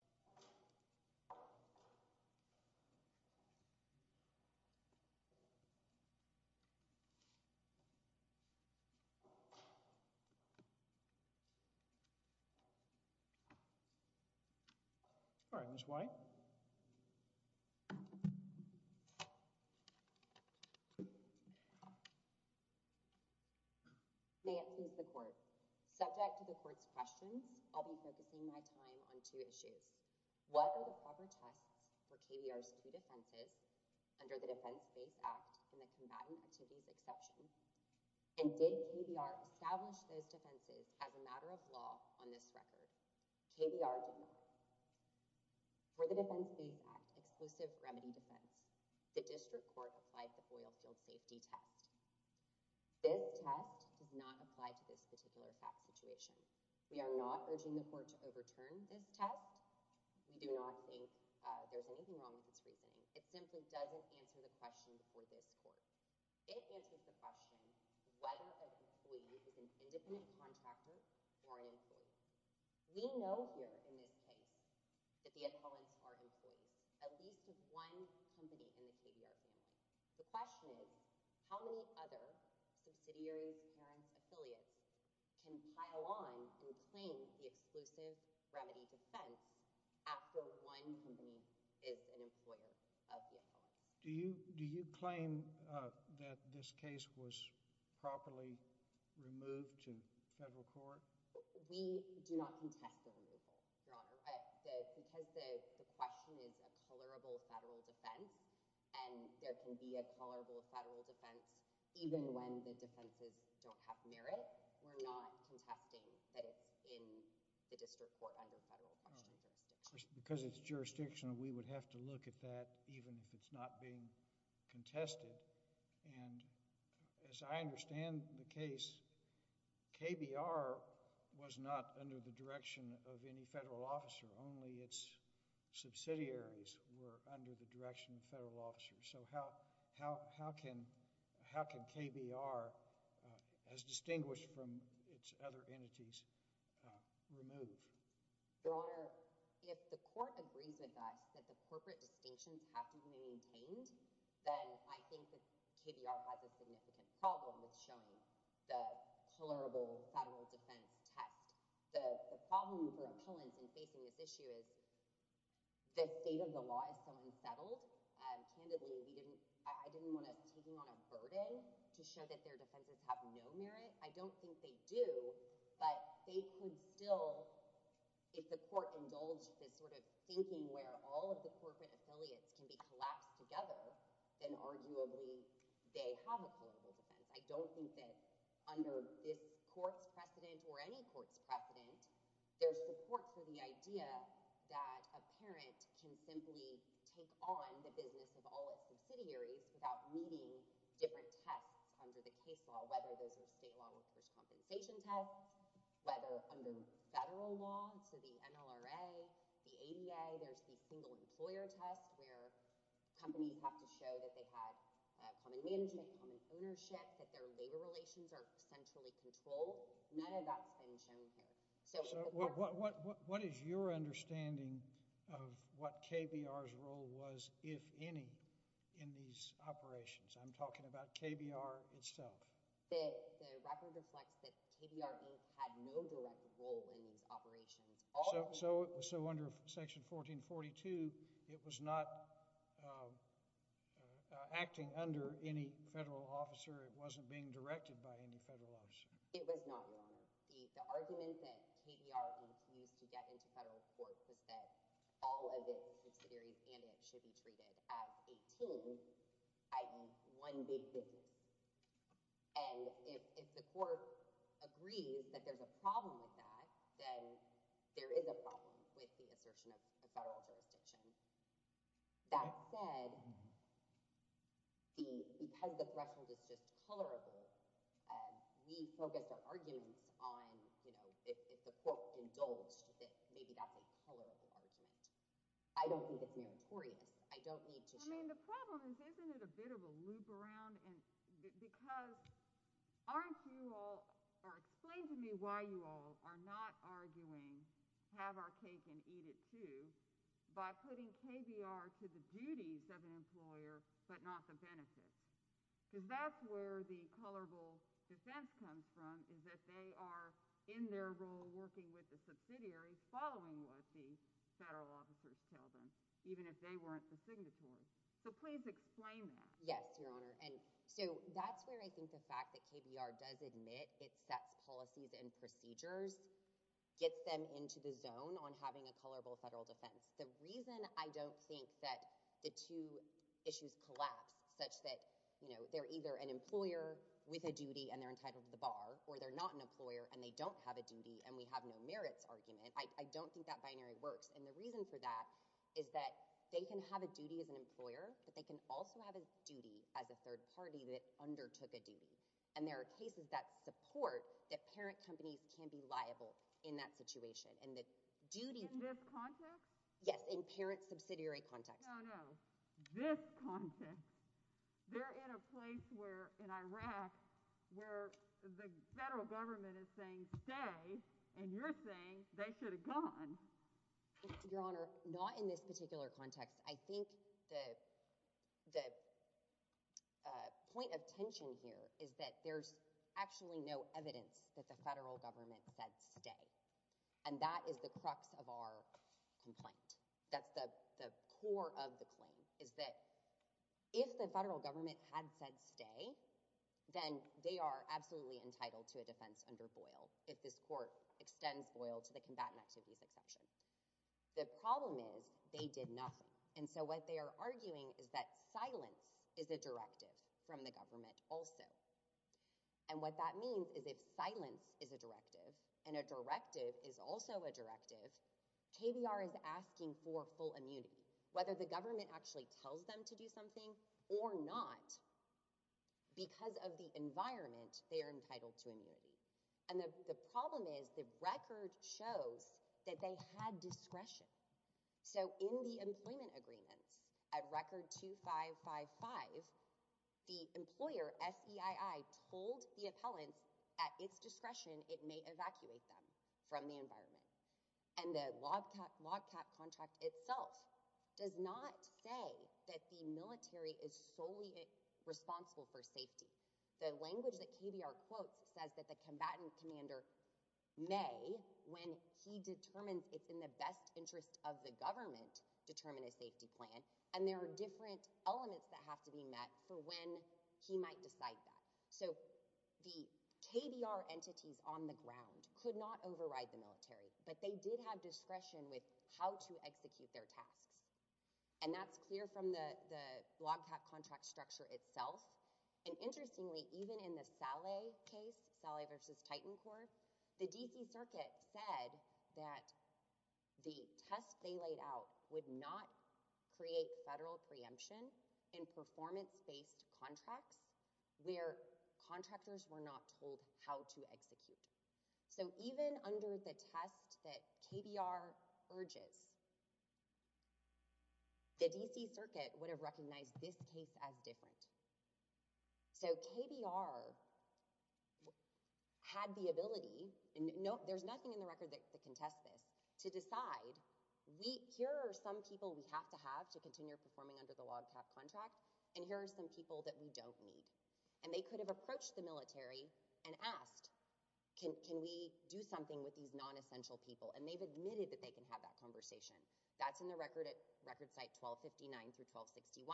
May I please have the floor? All right, Ms. White. May it please the Court. Subject to the Court's questions, I'll be focusing my time on two issues. What are the proper tests for KBR's two defenses under the Defense Base Act and the Combatant Activities Exception? And did KBR establish those defenses as a matter of law on this record? KBR did not. For the Defense Base Act Exclusive Remedy Defense, the District Court applied the Boyle Field Safety Test. This test does not apply to this particular fact situation. We are not urging the Court to overturn this test. We do not think there's anything wrong with its reasoning. It simply doesn't answer the question for this Court. It answers the question whether an employee is an independent contractor or an employee. We know here in this case that the appellants are employees, at least of one company in the KBR family. The question is, how many other subsidiaries, parents, affiliates can pile on and claim the Exclusive Remedy Defense under the Defense Base Act? Do you claim that this case was properly removed to federal court? We do not contest the removal, Your Honor, because the question is a colorable federal defense, and there can be a colorable federal defense even when the defenses don't have merit. But we're not contesting that it's in the District Court under federal jurisdiction. All right. Because it's jurisdictional, we would have to look at that even if it's not being contested. And as I understand the case, KBR was not under the direction of any federal officer. Only its subsidiaries were under the direction of federal officers. So how can KBR, as distinguished from its other entities, remove? Your Honor, if the court agrees with us that the corporate distinctions have to be maintained, then I think that KBR has a significant problem with showing the colorable federal defense test. The problem for appellants in facing this issue is the state of the law is so unsettled, and candidly, I didn't want us taking on a burden to show that their defenses have no merit. I don't think they do, but they could still, if the court indulged this sort of thinking where all of the corporate affiliates can be collapsed together, then arguably they have a colorable defense. I don't think that under this court's precedent or any court's precedent, there's support for the idea that a parent can simply take on the business of all its subsidiaries without meeting different tests under the case law, whether those are state law workers' compensation tests, whether under federal law, so the MLRA, the ADA, there's the single employer test where companies have to show that they had common management, common ownership, that their labor relations are centrally controlled. None of that's been shown here. So what is your understanding of what KBR's role was, if any, in these operations? I'm talking about KBR itself. The record reflects that KBR Inc. had no direct role in these operations. So under Section 1442, it was not acting under any federal officer, it wasn't being directed It was not, Your Honor. The argument that KBR Inc. used to get into federal court was that all of its subsidiaries and it should be treated as a team, i.e. one big business. And if the court agrees that there's a problem with that, then there is a problem with the assertion of a federal jurisdiction. That said, because the threshold is just colorable, we focused our arguments on, you know, if the court indulged that maybe that's a colorable argument. I don't think it's meritorious. I don't need to show... I mean, the problem is, isn't it a bit of a loop around? Because aren't you all, or explain to me why you all are not arguing, have our cake and eat it by putting KBR to the duties of an employer, but not the benefits. Because that's where the colorable defense comes from, is that they are in their role working with the subsidiaries following what the federal officers tell them, even if they weren't the signatories. So please explain that. Yes, Your Honor. And so that's where I think the fact that KBR does admit it sets policies and procedures gets them into the zone on having a colorable federal defense. The reason I don't think that the two issues collapse such that, you know, they're either an employer with a duty and they're entitled to the bar, or they're not an employer and they don't have a duty and we have no merits argument, I don't think that binary works. And the reason for that is that they can have a duty as an employer, but they can also have a duty as a third party that undertook a duty. And there are cases that support that parent companies can be liable in that situation. In this context? Yes, in parent subsidiary context. No, no. This context. They're in a place where, in Iraq, where the federal government is saying stay, and you're saying they should have gone. Your Honor, not in this particular context. I think the point of tension here is that there's actually no evidence that the federal government said stay. And that is the crux of our complaint. That's the core of the claim, is that if the federal government had said stay, then they are absolutely entitled to a defense under Boyle if this court extends Boyle to the combatant activities exception. The problem is they did nothing. And so what they are arguing is that silence is a directive from the government also. And what that means is if silence is a directive, and a directive is also a directive, KBR is asking for full immunity. Whether the government actually tells them to do something or not, because of the environment, they are entitled to immunity. And the problem is the record shows that they had discretion. So in the employment agreements, at record 2555, the employer, SEII, told the appellants at its discretion it may evacuate them from the environment. And the log cap contract itself does not say that the military is solely responsible for safety. The language that KBR quotes says that the combatant commander may, when he determines it's in the best interest of the government, determine a safety plan. And there are different elements that have to be met for when he might decide that. So the KBR entities on the ground could not override the military. But they did have discretion with how to execute their tasks. And that's clear from the log cap contract structure itself. And interestingly, even in the Saleh case, Saleh versus Titan Corps, the DC circuit said that the test they laid out would not create federal preemption in performance-based contracts where contractors were not told how to execute. So even under the test that KBR urges, the DC circuit would have recognized this case as different. So KBR had the ability, and there's nothing in the record that contests this, to decide here are some people we have to have to continue performing under the log cap contract, and here are some people that we don't need. And they could have approached the military and asked, can we do something with these non-essential people? And they've admitted that they can have that conversation. That's in the record at record site 1259 through 1261.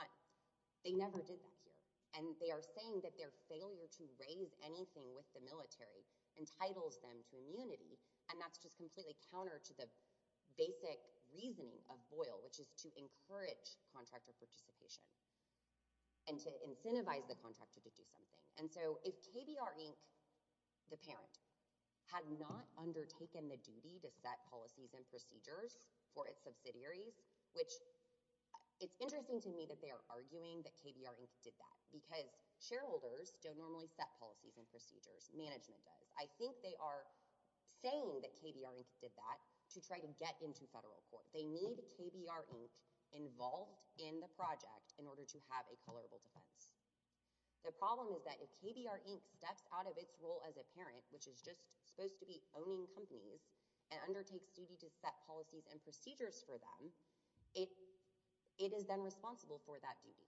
They never did that here. And they are saying that their failure to raise anything with the military entitles them to immunity. And that's just completely counter to the basic reasoning of Boyle, which is to encourage contractor participation and to incentivize the contractor to do something. And so if KBR Inc., the parent, had not undertaken the duty to set policies and procedures for its subsidiaries, which it's interesting to me that they are arguing that KBR Inc. did that, because shareholders don't normally set policies and procedures. Management does. I think they are saying that KBR Inc. did that to try to get into federal court. They need KBR Inc. involved in the project in order to have a colorable defense. The problem is that if KBR Inc. steps out of its role as a parent, which is just supposed to be owning companies, and undertakes duty to set policies and procedures for them, it is then responsible for that duty.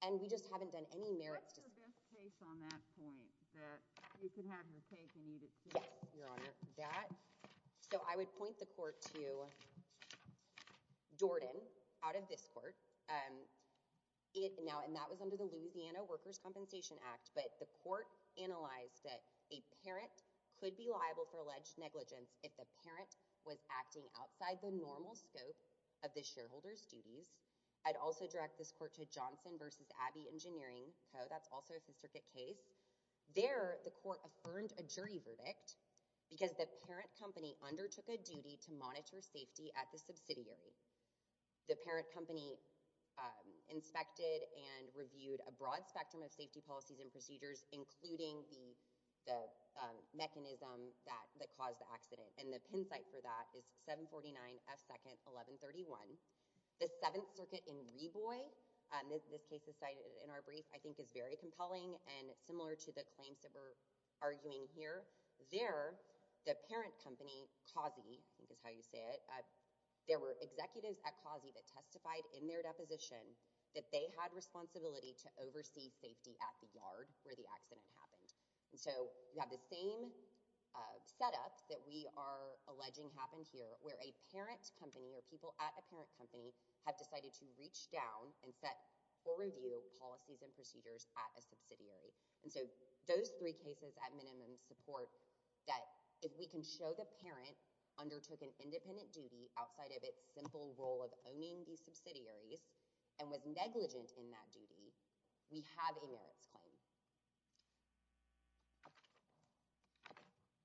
And we just haven't done any merits to— What's her best case on that point, that you can have her take and eat at school? Yes, Your Honor. That. So I would point the court to Dorden out of this court. Now, and that was under the Louisiana Workers' Compensation Act. But the court analyzed that a parent could be liable for alleged negligence if the parent was acting outside the normal scope of the shareholder's duties. I'd also direct this court to Johnson v. Abbey Engineering Co. That's also a Fifth Circuit case. There, the court affirmed a jury verdict, because the parent company undertook a duty to monitor safety at the subsidiary. The parent company inspected and reviewed a broad spectrum of safety policies and procedures, including the mechanism that caused the accident. And the pin site for that is 749 F. 2nd, 1131. The Seventh Circuit in Reboy—this case is cited in our brief—I think is very compelling, and similar to the claims that we're arguing here. There, the parent company, COSI—I think is how you say it—there were executives at COSI that testified in their deposition that they had responsibility to oversee safety at the yard where the accident happened. And so you have the same setup that we are alleging happened here, where a parent company or people at a parent company have decided to reach down and set or review policies and procedures at a subsidiary. And so those three cases, at minimum, support that if we can show the parent undertook an independent duty outside of its simple role of owning these subsidiaries and was negligent in that duty, we have a merits claim.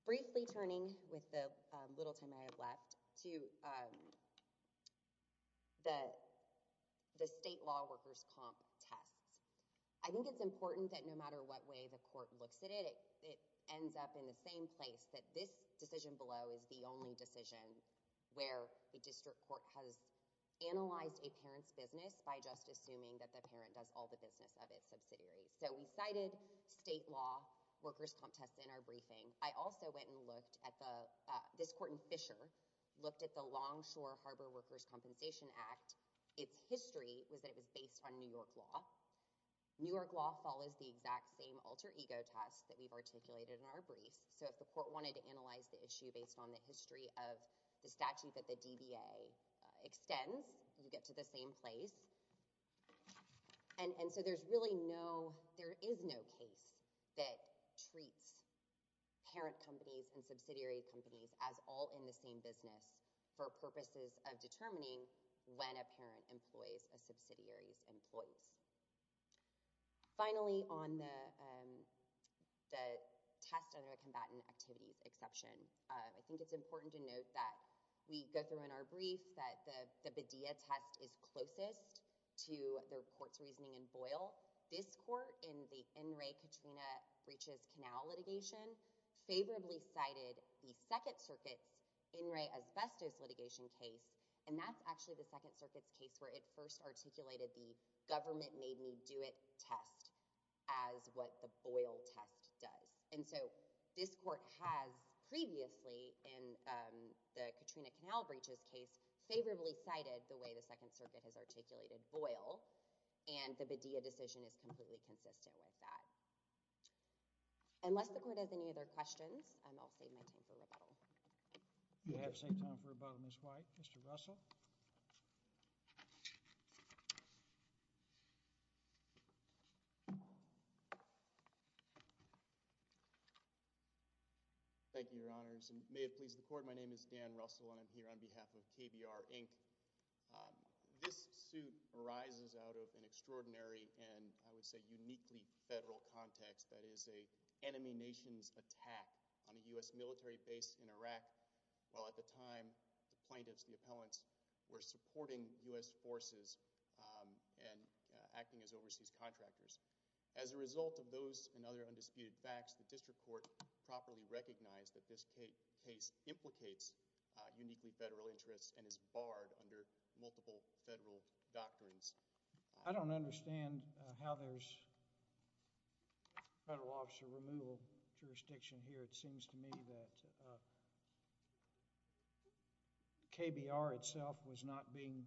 Briefly turning, with the little time I have left, to the state law workers' comp tests. I think it's important that no matter what way the court looks at it, it ends up in the same place, that this decision below is the only decision where a district court has analyzed a parent's business by just assuming that the parent does all the business of its subsidiaries. So we cited state law workers' comp tests in our briefing. I also went and looked at the—this court in Fisher looked at the Longshore Harbor Workers' Compensation Act. Its history was that it was based on New York law. New York law follows the exact same alter ego test that we've articulated in our briefs. So if the court wanted to analyze the issue based on the history of the statute that the DBA extends, you get to the same place. And so there's really no—there is no case that treats parent companies and subsidiary companies as all in the same business for purposes of determining when a parent employs a subsidiary's employees. Finally, on the test under a combatant activities exception, I think it's important to note that we go through in our brief that the Badea test is closest to the court's reasoning in Boyle. In Boyle, this court in the N. Ray Katrina Breaches Canal litigation favorably cited the Second Circuit's N. Ray asbestos litigation case, and that's actually the Second Circuit's case where it first articulated the government made me do it test as what the Boyle test does. And so this court has previously in the Katrina Canal breaches case favorably cited the way that the Second Circuit has articulated Boyle, and the Badea decision is completely consistent with that. Unless the court has any other questions, I'll save my time for rebuttal. You have some time for rebuttal, Ms. White. Mr. Russell? Thank you, Your Honors. And may it please the court, my name is Dan Russell, and I'm here on behalf of KBR, Inc. This suit arises out of an extraordinary and, I would say, uniquely federal context that is an enemy nation's attack on a U.S. military base in Iraq while at the time the plaintiffs, the appellants, were supporting U.S. forces and acting as overseas contractors. As a result of those and other undisputed facts, the district court properly recognized that this case implicates uniquely federal interests and is barred under multiple federal doctrines. I don't understand how there's federal officer removal jurisdiction here. It seems to me that KBR itself was not being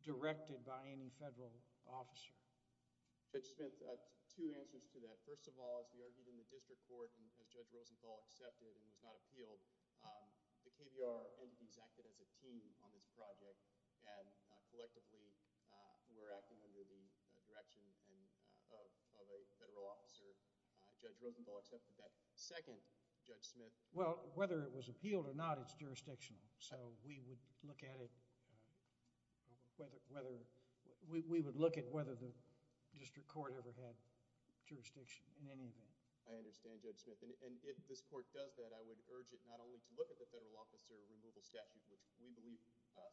directed by any federal officer. Judge Smith, two answers to that. First of all, as we argued in the district court, as Judge Rosenthal accepted and was not appealed, the KBR entities acted as a team on this project and collectively were acting under the direction of a federal officer. Judge Rosenthal accepted that. Second, Judge Smith? Well, whether it was appealed or not, it's jurisdictional. We would look at whether the district court ever had jurisdiction in any event. I understand, Judge Smith. If this court does that, I would urge it not only to look at the federal officer removal statute, which we believe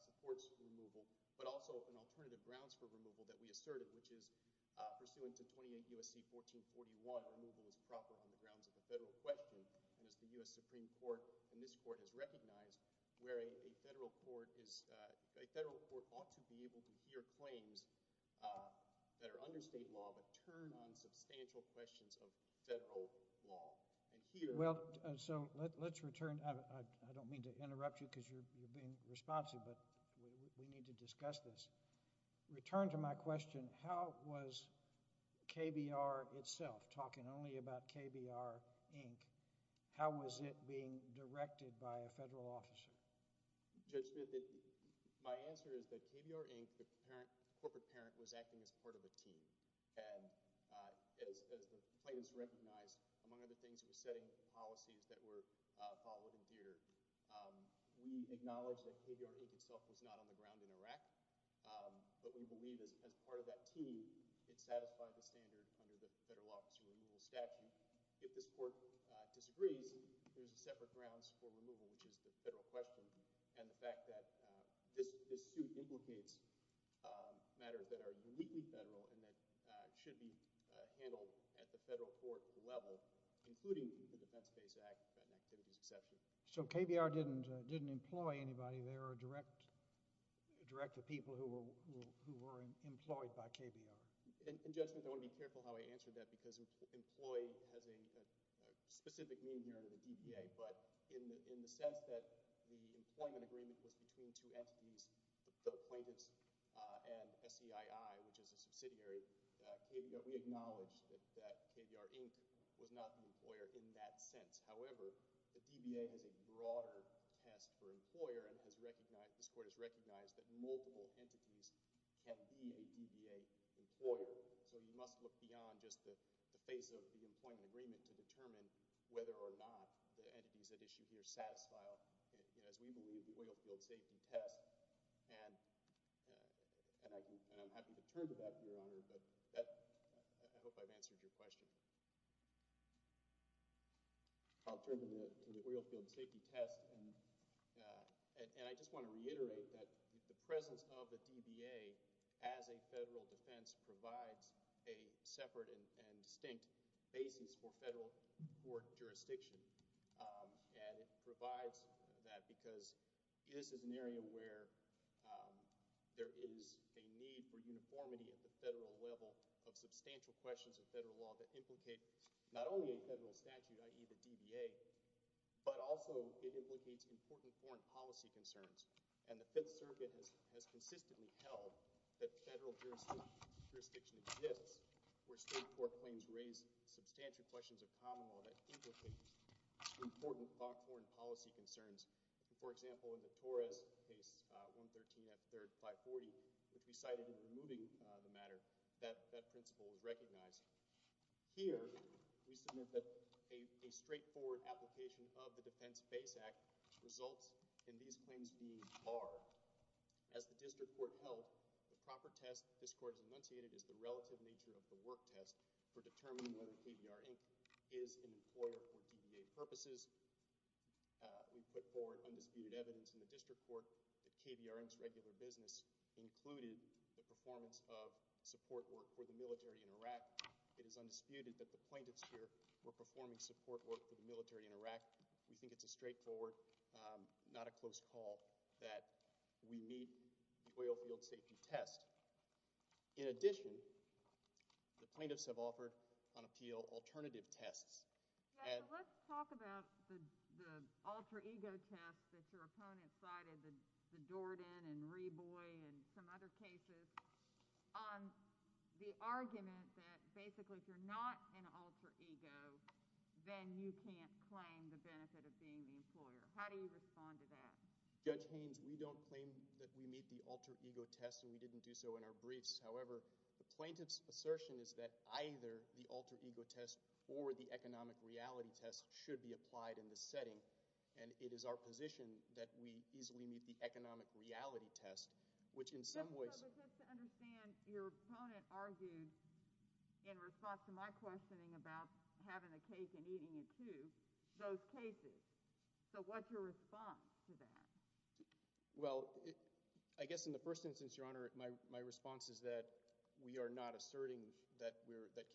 supports removal, but also an alternative grounds for removal that we asserted, which is pursuant to 28 U.S.C. 1441, removal is proper on the grounds of a federal question, and as the U.S. Supreme Court and this court has recognized, where a federal court ought to be able to hear claims that are under state law but turn on substantial questions of federal law. Let's return. I don't mean to interrupt you because you're being responsive, but we need to discuss this. To return to my question, how was KBR itself, talking only about KBR, Inc., how was it being directed by a federal officer? Judge Smith, my answer is that KBR, Inc., the corporate parent, was acting as part of a team, and as the plaintiffs recognized, among other things, it was setting policies that were followed and feared. We acknowledge that KBR, Inc., itself, was not on the ground in Iraq, but we believe as part of that team, it satisfied the standard under the federal officer removal statute. If this court disagrees, there's a separate grounds for removal, which is the federal question, and the fact that this suit implicates matters that are uniquely federal and that should be handled at the federal court level, including the Defense-Based Act and activities exception. So KBR didn't employ anybody there or direct the people who were employed by KBR? And, Judge Smith, I want to be careful how I answer that because employ has a specific meaning here under the DBA, but in the sense that the employment agreement was between two entities, the plaintiffs and SCII, which is a subsidiary, we acknowledge that KBR, Inc., was not the employer in that sense. However, the DBA has a broader test for employer and this court has recognized that multiple entities can be a DBA employer, so you must look beyond just the face of the employment agreement to determine whether or not the entities at issue here satisfy, as we believe, the oil field safety test. And I'm happy to turn to that, Your Honor, but I hope I've answered your question. I'll turn to the oil field safety test and I just want to reiterate that the presence of the DBA as a federal defense provides a separate and distinct basis for federal court jurisdiction and it provides that because this is an area where there is a need for uniformity at the federal level of substantial questions of federal law that implicate not only a federal statute, i.e., the DBA, but also it implicates important foreign policy concerns and the Fifth Circuit has consistently held that federal jurisdiction exists where state court claims raise substantial questions of common law that implicate important foreign policy concerns. For example, in the Torres case 113 F. 3rd, 540, which we cited in removing the matter, that principle was recognized. Here, we submit that a straightforward application of the Defense Base Act results in these claims being barred. As the district court held, the proper test this court has enunciated is the relative nature of the work test for determining whether KBR, Inc. is an employer for DBA purposes. We put forward undisputed evidence in the district court that KBR, Inc.'s regular business included the performance of support work for the military in Iraq. It is undisputed that the plaintiffs here were performing support work for the military in Iraq. We think it's a straightforward, not a close call, that we meet the oil field safety test. In addition, the plaintiffs have offered on appeal alternative tests. Let's talk about the alter ego test that your opponent cited, the Jordan and Reboy and some other cases, on the argument that basically if you're not an alter ego, then you can't claim the benefit of being the employer. How do you respond to that? Judge Haynes, we don't claim that we meet the alter ego test and we didn't do so in our briefs. However, the plaintiff's assertion is that either the alter ego test or the economic reality test should be applied in this setting. And it is our position that we easily meet the economic reality test, which in some ways No, but just to understand, your opponent argued in response to my questioning about having a cake and eating it too, those cases. So what's your response to that? Well, I guess in the first instance, your Honor, my response is that we are not asserting that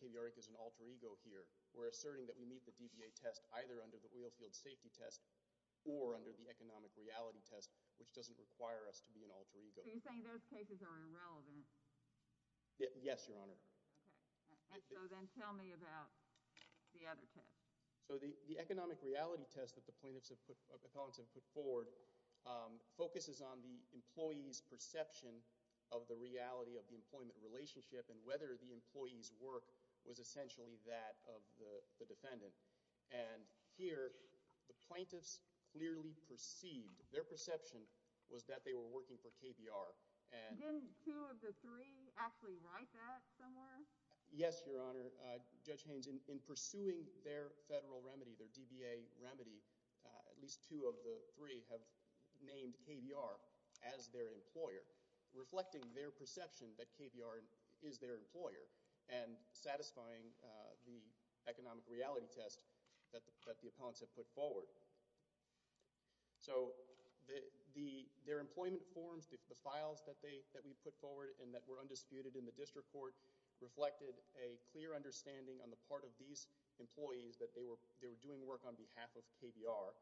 KBRA is an alter ego here. We're asserting that we meet the DBA test either under the oil field safety test or under the economic reality test, which doesn't require us to be an alter ego. So you're saying those cases are irrelevant? Yes, your Honor. Okay. And so then tell me about the other test. So the economic reality test that the plaintiff's opponents have put forward focuses on the employee's perception of the reality of the employment relationship and whether the employee's work was essentially that of the defendant. And here, the plaintiff's clearly perceived, their perception was that they were working for KBR. Didn't two of the three actually write that somewhere? Yes, your Honor. Judge Haynes, in pursuing their federal remedy, their DBA remedy, at least two of the three have named KBR as their employer, reflecting their perception that KBR is their employer and satisfying the economic reality test that the opponents have put forward. So their employment forms, the files that we put forward and that were undisputed in the district court reflected a clear understanding on the part of these employees that they were doing work on behalf of KBR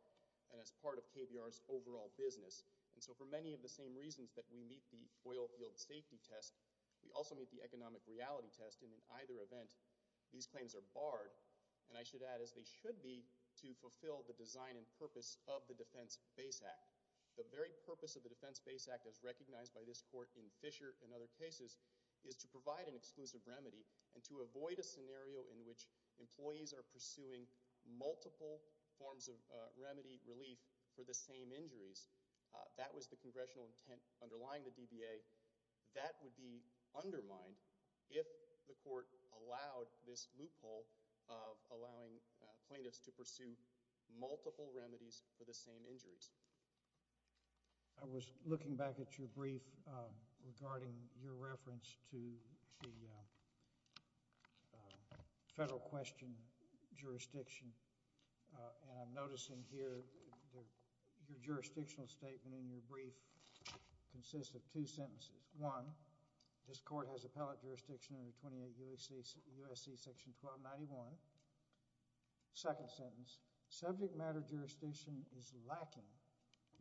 and as part of KBR's overall business. And so for many of the same reasons that we meet the oil field safety test, we also meet the economic reality test. And in either event, these claims are barred. And I should add, as they should be, to fulfill the design and purpose of the Defense Base Act. The very purpose of the Defense Base Act as recognized by this court in Fisher and other cases is to provide an exclusive remedy and to avoid a scenario in which employees are pursuing multiple forms of remedy relief for the same injuries. That was the congressional intent underlying the DBA. That would be undermined if the court allowed this loophole of allowing plaintiffs to pursue multiple remedies for the same injuries. I was looking back at your brief regarding your reference to the federal question jurisdiction and I'm noticing here your jurisdictional statement in your brief consists of two sentences. One, this court has appellate jurisdiction under 28 U.S.C. Section 1291. Second sentence, subject matter jurisdiction is lacking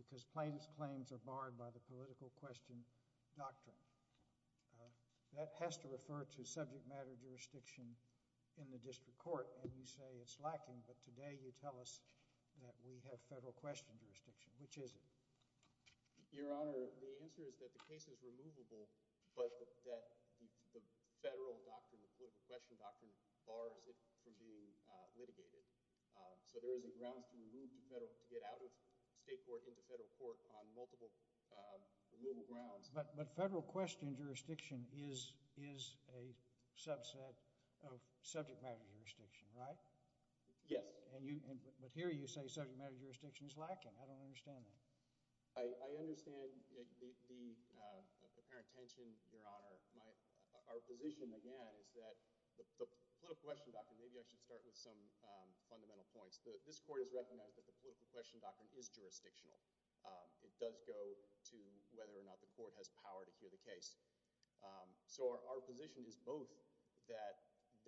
because plaintiff's claims are barred by the political question doctrine. That has to refer to subject matter jurisdiction in the district court and you say it's lacking but today you tell us that we have federal question jurisdiction. Which is it? Your Honor, the answer is that the case is removable but that the federal doctrine, the So there is a grounds to get out of state court into federal court on multiple grounds. But federal question jurisdiction is a subset of subject matter jurisdiction, right? Yes. But here you say subject matter jurisdiction is lacking. I don't understand that. I understand the apparent tension, Your Honor. Our position, again, is that the political question doctrine, maybe I should start with some fundamental points. This court has recognized that the political question doctrine is jurisdictional. It does go to whether or not the court has power to hear the case. So our position is both that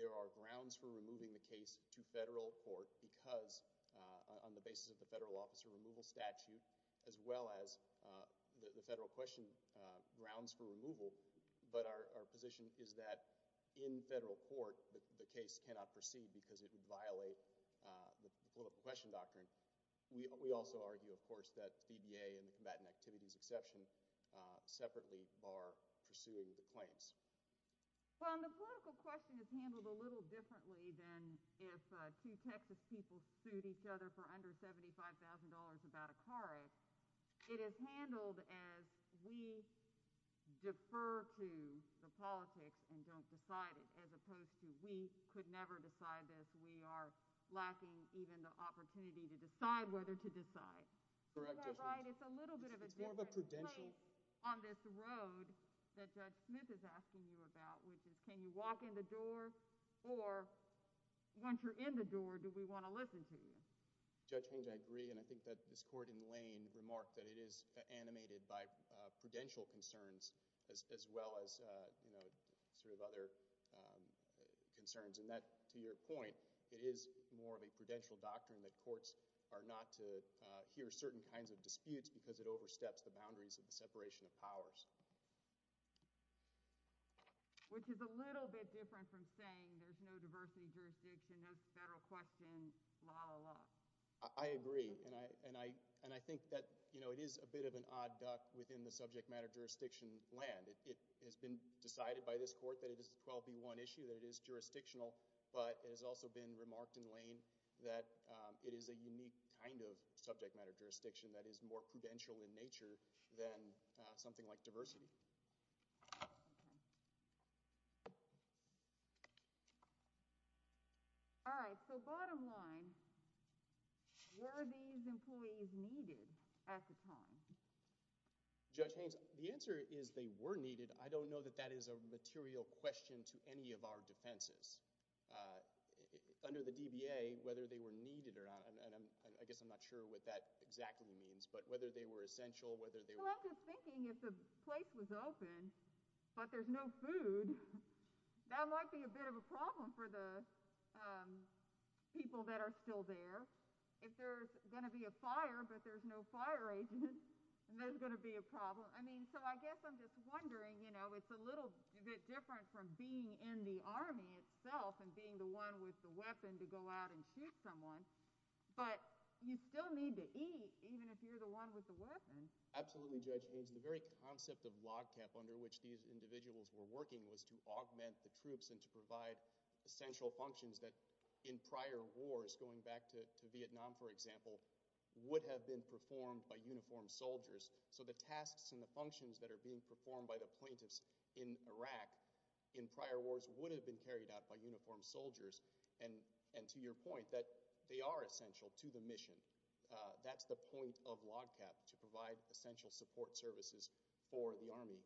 there are grounds for removing the case to federal court because on the basis of the federal officer removal statute as well as the federal question grounds for removal, but our position is that in federal court the case cannot proceed because it would violate the political question doctrine. We also argue, of course, that VBA and the combatant activities exception separately are pursuing the claims. Well, and the political question is handled a little differently than if two Texas people sued each other for under $75,000 about a car wreck. It is handled as we defer to the politics and don't decide it as opposed to we could never decide this. We are lacking even the opportunity to decide whether to decide. Correct, Judge. Am I right? It's a little bit of a different place on this road that Judge Smith is asking you about, which is can you walk in the door or once you're in the door do we want to listen to you? Judge Hinge, I agree and I think that this court in Lane remarked that it is animated by prudential concerns as well as, you know, sort of other concerns. And that, to your point, it is more of a prudential doctrine that courts are not to hear certain kinds of disputes because it oversteps the boundaries of the separation of powers. Which is a little bit different from saying there's no diversity jurisdiction, no federal question, blah, blah, blah. I agree. And I think that, you know, it is a bit of an odd duck within the subject matter jurisdiction land. It has been decided by this court that it is a 12B1 issue, that it is jurisdictional, but it has also been remarked in Lane that it is a unique kind of subject matter jurisdiction that is more prudential in nature than something like diversity. Okay. All right. So, bottom line, were these employees needed at the time? Judge Hinge, the answer is they were needed. I don't know that that is a material question to any of our defenses. Under the DBA, whether they were needed or not, and I guess I'm not sure what that exactly means, but whether they were essential, whether they were— Well, I'm just thinking if the place was open but there's no food, that might be a bit of a problem for the people that are still there. If there's going to be a fire but there's no fire agent, then there's going to be a problem. I mean, so I guess I'm just wondering, you know, it's a little bit different from being in the Army itself and being the one with the weapon to go out and shoot someone, but you still need to eat even if you're the one with the weapon. Absolutely, Judge Hinge. The very concept of LOGCAP under which these individuals were working was to augment the troops and to provide essential functions that in prior wars, going back to Vietnam, for example, would have been performed by uniformed soldiers. So the tasks and the functions that are being performed by the plaintiffs in Iraq in prior wars would have been carried out by uniformed soldiers, and to your point, that they are essential to the mission. That's the point of LOGCAP, to provide essential support services for the Army,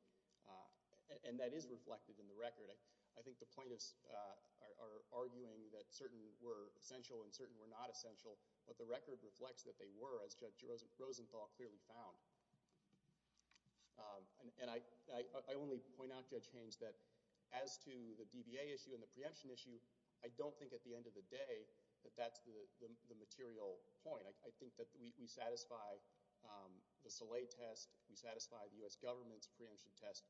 and that is reflected in the record. I think the plaintiffs are arguing that certain were essential and certain were not essential, but the record reflects that they were, as Judge Rosenthal clearly found. And I only point out, Judge Hinge, that as to the DBA issue and the preemption issue, I don't think at the end of the day that that's the material point. I think that we satisfy the Soleil test. We satisfy the U.S. government's preemption test,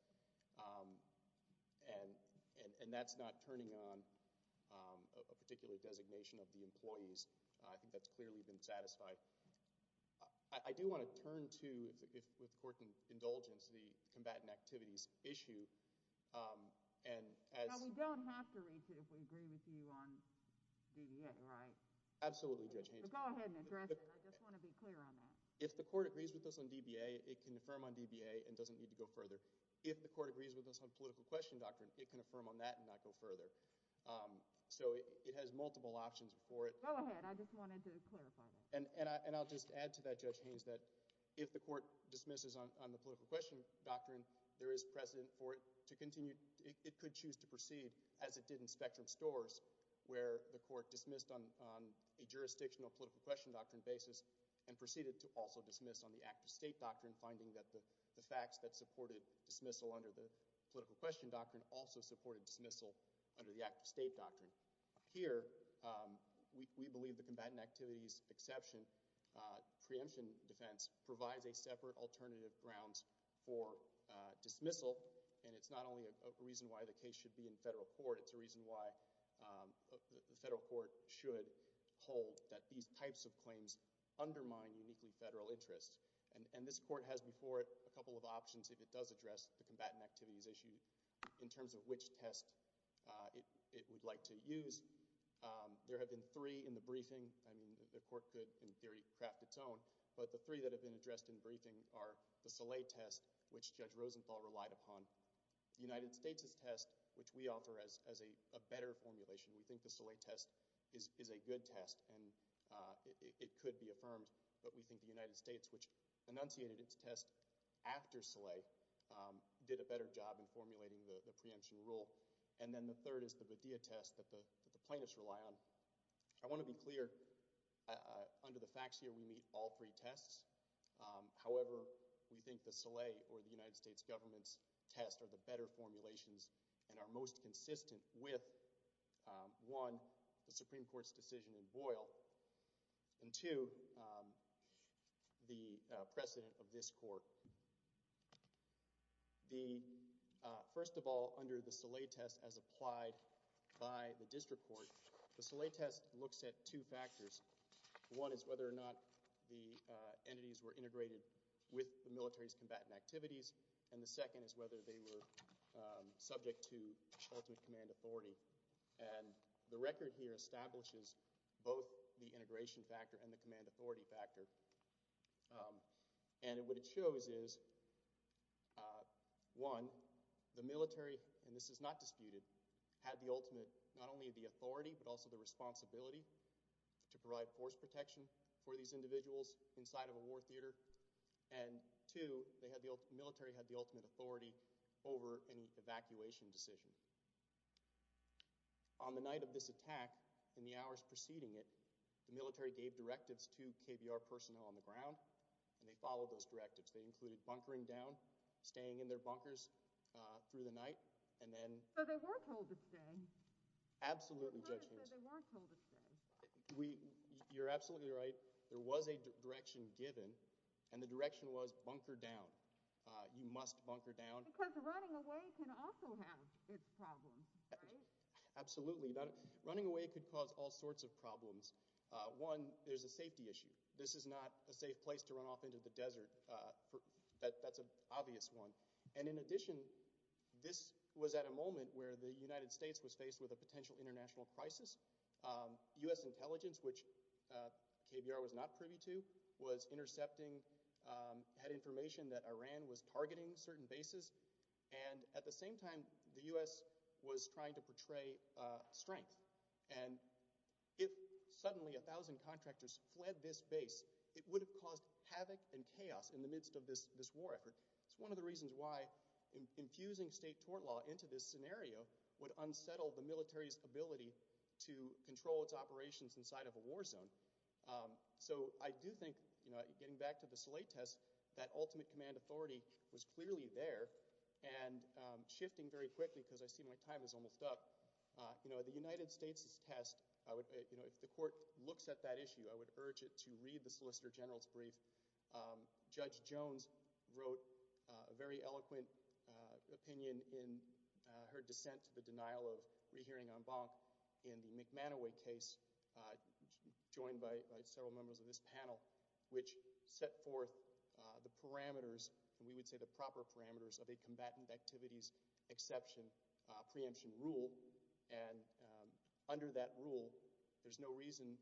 and that's not turning on a particular designation of the employees. I think that's clearly been satisfied. I do want to turn to, with court indulgence, the combatant activities issue, and as— Now, we don't have to reach it if we agree with you on DBA, right? Absolutely, Judge Hinge. Go ahead and address it. I just want to be clear on that. If the court agrees with us on DBA, it can affirm on DBA and doesn't need to go further. If the court agrees with us on political question doctrine, it can affirm on that and not go further. So it has multiple options for it. Go ahead. I just wanted to clarify that. And I'll just add to that, Judge Hinge, that if the court dismisses on the political question doctrine, there is precedent for it to continue—it could choose to proceed, as it did in Spectrum Stores, where the court dismissed on a jurisdictional political question doctrine basis and proceeded to also dismiss on the active state doctrine, finding that the facts that supported dismissal under the political question doctrine also supported dismissal under the active state doctrine. Here, we believe the combatant activities exception preemption defense provides a separate alternative grounds for dismissal. And it's not only a reason why the case should be in federal court. It's a reason why the federal court should hold that these types of claims undermine uniquely federal interests. And this court has before it a couple of options if it does address the combatant activities issue in terms of which test it would like to use. There have been three in the briefing. I mean, the court could, in theory, craft its own. But the three that have been addressed in briefing are the Soleil test, which Judge Rosenthal relied upon, the United States' test, which we offer as a better formulation. We think the Soleil test is a good test, and it could be affirmed. But we think the United States, which enunciated its test after Soleil, did a better job in formulating the preemption rule. And then the third is the Bodea test that the plaintiffs rely on. I want to be clear. Under the facts here, we meet all three tests. However, we think the Soleil or the United States government's test are the better formulations and are most consistent with, one, the Supreme Court's decision in Boyle, and two, the precedent of this court. First of all, under the Soleil test as applied by the district court, the Soleil test looks at two factors. One is whether or not the entities were integrated with the military's combatant activities, and the second is whether they were subject to ultimate command authority. And the record here establishes both the integration factor and the command authority factor. And what it shows is, one, the military, and this is not disputed, had the ultimate, not only the authority, but also the responsibility to provide force protection for these individuals inside of a war theater, and two, the military had the ultimate authority over any evacuation decision. On the night of this attack, in the hours preceding it, the military gave directives to KBR personnel on the ground, and they followed those directives. They included bunkering down, staying in their bunkers through the night, and then... So they were told to stay? Absolutely, Judge Haynes. But the court said they weren't told to stay. You're absolutely right. There was a direction given, and the direction was bunker down. You must bunker down. Because running away can also have its problems, right? Absolutely. Running away could cause all sorts of problems. One, there's a safety issue. This is not a safe place to run off into the desert. That's an obvious one. And in addition, this was at a moment where the United States was faced with a potential international crisis. U.S. intelligence, which KBR was not privy to, was intercepting, had information that Iran was targeting certain bases, and at the same time, the U.S. was trying to portray strength. And if suddenly a thousand contractors fled this base, it would have caused havoc and chaos in the midst of this war effort. It's one of the reasons why infusing state tort law into this scenario would unsettle the military's ability to control its operations inside of a war zone. So I do think, you know, getting back to the Salay test, that ultimate command authority was clearly there, and shifting very quickly, because I see my time is almost up, you know, for the United States' test, you know, if the court looks at that issue, I would urge it to read the Solicitor General's brief. Judge Jones wrote a very eloquent opinion in her dissent to the denial of rehearing en banc in the McManoway case, joined by several members of this panel, which set forth the parameters, and we would say the proper parameters, of a combatant activities exception preemption rule, and under that rule, there's no reason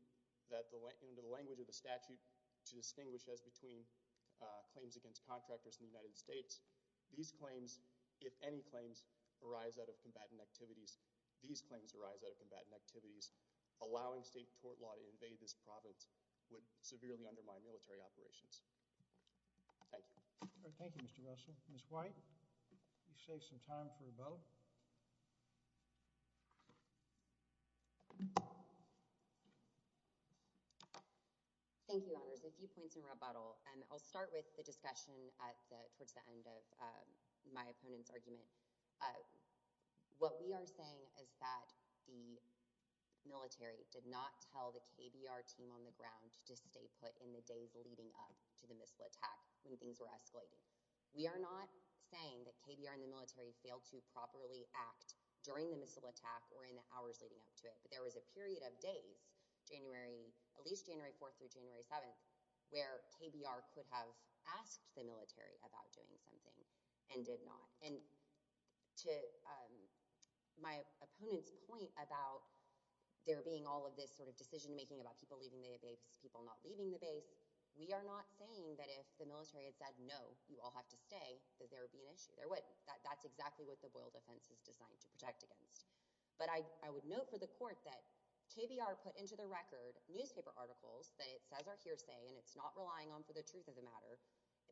in the language of the statute to distinguish as between claims against contractors in the United States. These claims, if any claims, arise out of combatant activities. These claims arise out of combatant activities. Allowing state tort law to invade this province would severely undermine military operations. Thank you. Thank you, Mr. Russell. Ms. White, you save some time for rebuttal. Thank you, Your Honors. A few points in rebuttal, and I'll start with the discussion towards the end of my opponent's argument. What we are saying is that the military did not tell the KBR team on the ground to stay put in the days leading up to the missile attack, when things were escalating. We are not saying that KBR and the military failed to properly act during the missile attack or in the hours leading up to it, but there was a period of days, January, at least January 4th through January 7th, where KBR could have asked the military about doing something and did not. And to my opponent's point about there being all of this sort of decision making about people leaving the base, people not leaving the base, we are not saying that if the military had said, no, you all have to stay, that there would be an issue. There wouldn't. That's exactly what the Boyle defense is designed to protect against. But I would note for the court that KBR put into the record newspaper articles that it says are hearsay and it's not relying on for the truth of the matter,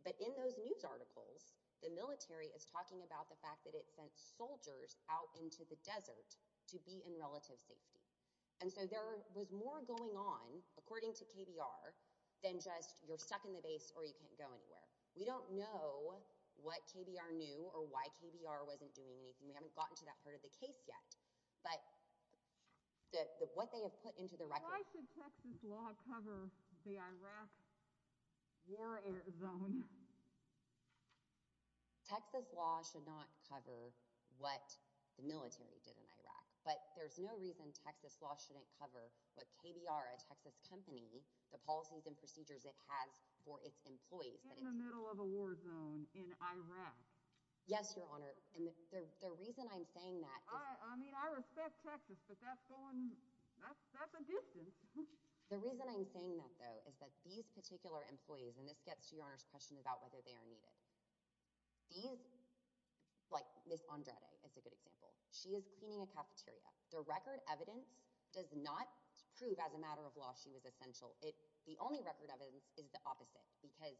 but in those news articles, the military is talking about the fact that it sent soldiers out into the desert to be in relative safety. And so there was more going on, according to KBR, than just you're stuck in the base or you can't go anywhere. We don't know what KBR knew or why KBR wasn't doing anything. We haven't gotten to that part of the case yet, but what they have put into the record. Why should Texas law cover the Iraq war zone? Texas law should not cover what the military did in Iraq, but there's no reason Texas law shouldn't cover what KBR, a Texas company, the policies and procedures it has for its employees. In the middle of a war zone in Iraq. Yes, Your Honor. And the reason I'm saying that. I mean, I respect Texas, but that's going, that's a distance. The reason I'm saying that, though, is that these particular employees, and this gets to Your Honor's question about whether they are needed. These, like Ms. Andrade is a good example. She is cleaning a cafeteria. The record evidence does not prove as a matter of law she was essential. The only record evidence is the opposite. Because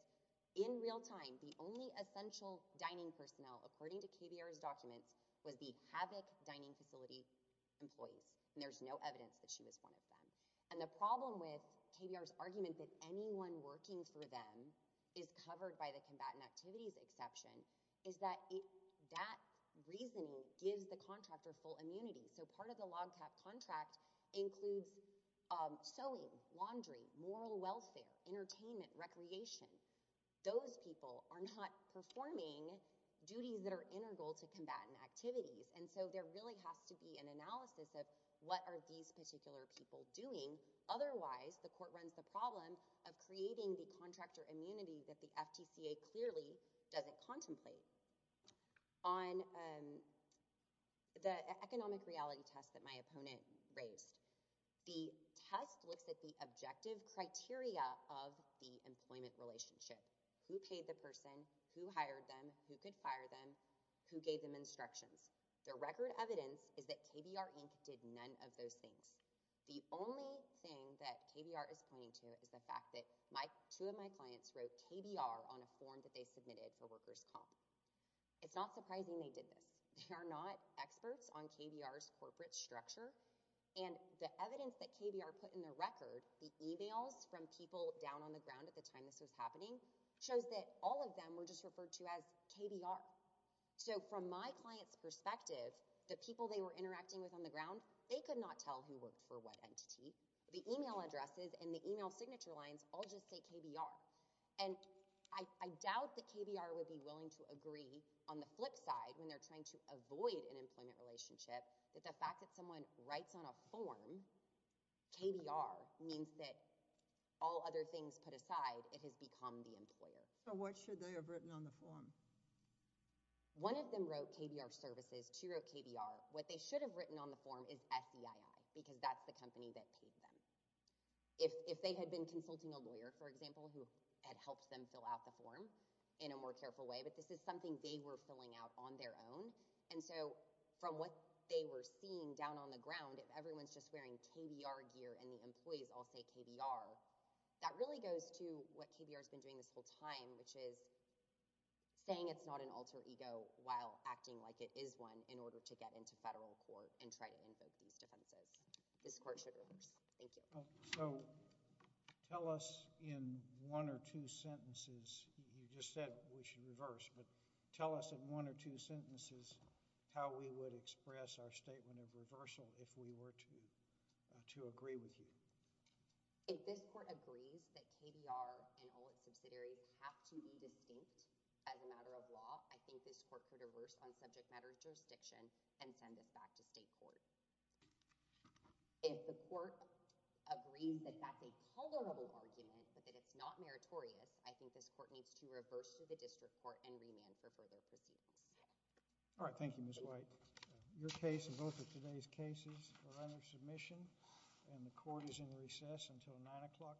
in real time, the only essential dining personnel, according to KBR's documents, was the Havoc dining facility employees. And there's no evidence that she was one of them. And the problem with KBR's argument that anyone working for them is covered by the combatant activities exception is that that reasoning gives the contractor full immunity. So part of the log cap contract includes sewing, laundry, moral welfare, entertainment, recreation. Those people are not performing duties that are integral to combatant activities. And so there really has to be an analysis of what are these particular people doing. Otherwise, the court runs the problem of creating the contractor immunity that the FTCA clearly doesn't contemplate. On the economic reality test that my opponent raised, the test looks at the objective criteria of the employment relationship. Who paid the person? Who hired them? Who could fire them? Who gave them instructions? The record evidence is that KBR Inc. did none of those things. The only thing that KBR is pointing to is the fact that two of my clients wrote KBR on a form that they submitted for workers' comp. It's not surprising they did this. They are not experts on KBR's corporate structure. And the evidence that KBR put in their record, the emails from people down on the ground at the time this was happening, shows that all of them were just referred to as KBR. So from my client's perspective, the people they were interacting with on the ground, they could not tell who worked for what entity. The email addresses and the email signature lines all just say KBR. And I doubt that KBR would be willing to agree on the flip side when they're trying to avoid an employment relationship that the fact that someone writes on a form KBR means that all other things put aside, it has become the employer. So what should they have written on the form? One of them wrote KBR services. Two wrote KBR. What they should have written on the form is SEII because that's the company that paid them. If they had been consulting a lawyer, for example, who had helped them fill out the form in a more careful way, but this is something they were filling out on their own. And so from what they were seeing down on the ground, if everyone's just wearing KBR gear and the employees all say KBR, that really goes to what KBR has been doing this whole time, which is saying it's not an alter ego while acting like it is one in order to get into federal court and try to invoke these defenses. This court should reverse. Thank you. So tell us in one or two sentences, you just said we should reverse, but tell us in one or two sentences how we would express our statement of reversal if we were to agree with you. If this court agrees that KBR and all its subsidiaries have to be distinct as a matter of law, I think this court could reverse on subject matter jurisdiction and send this back to state court. If the court agrees that that's a tolerable argument but that it's not meritorious, I think this court needs to reverse to the district court and remand for further proceedings. All right. Thank you, Ms. White. Your case and both of today's cases are under submission, and the court is in recess until 9 o'clock tomorrow.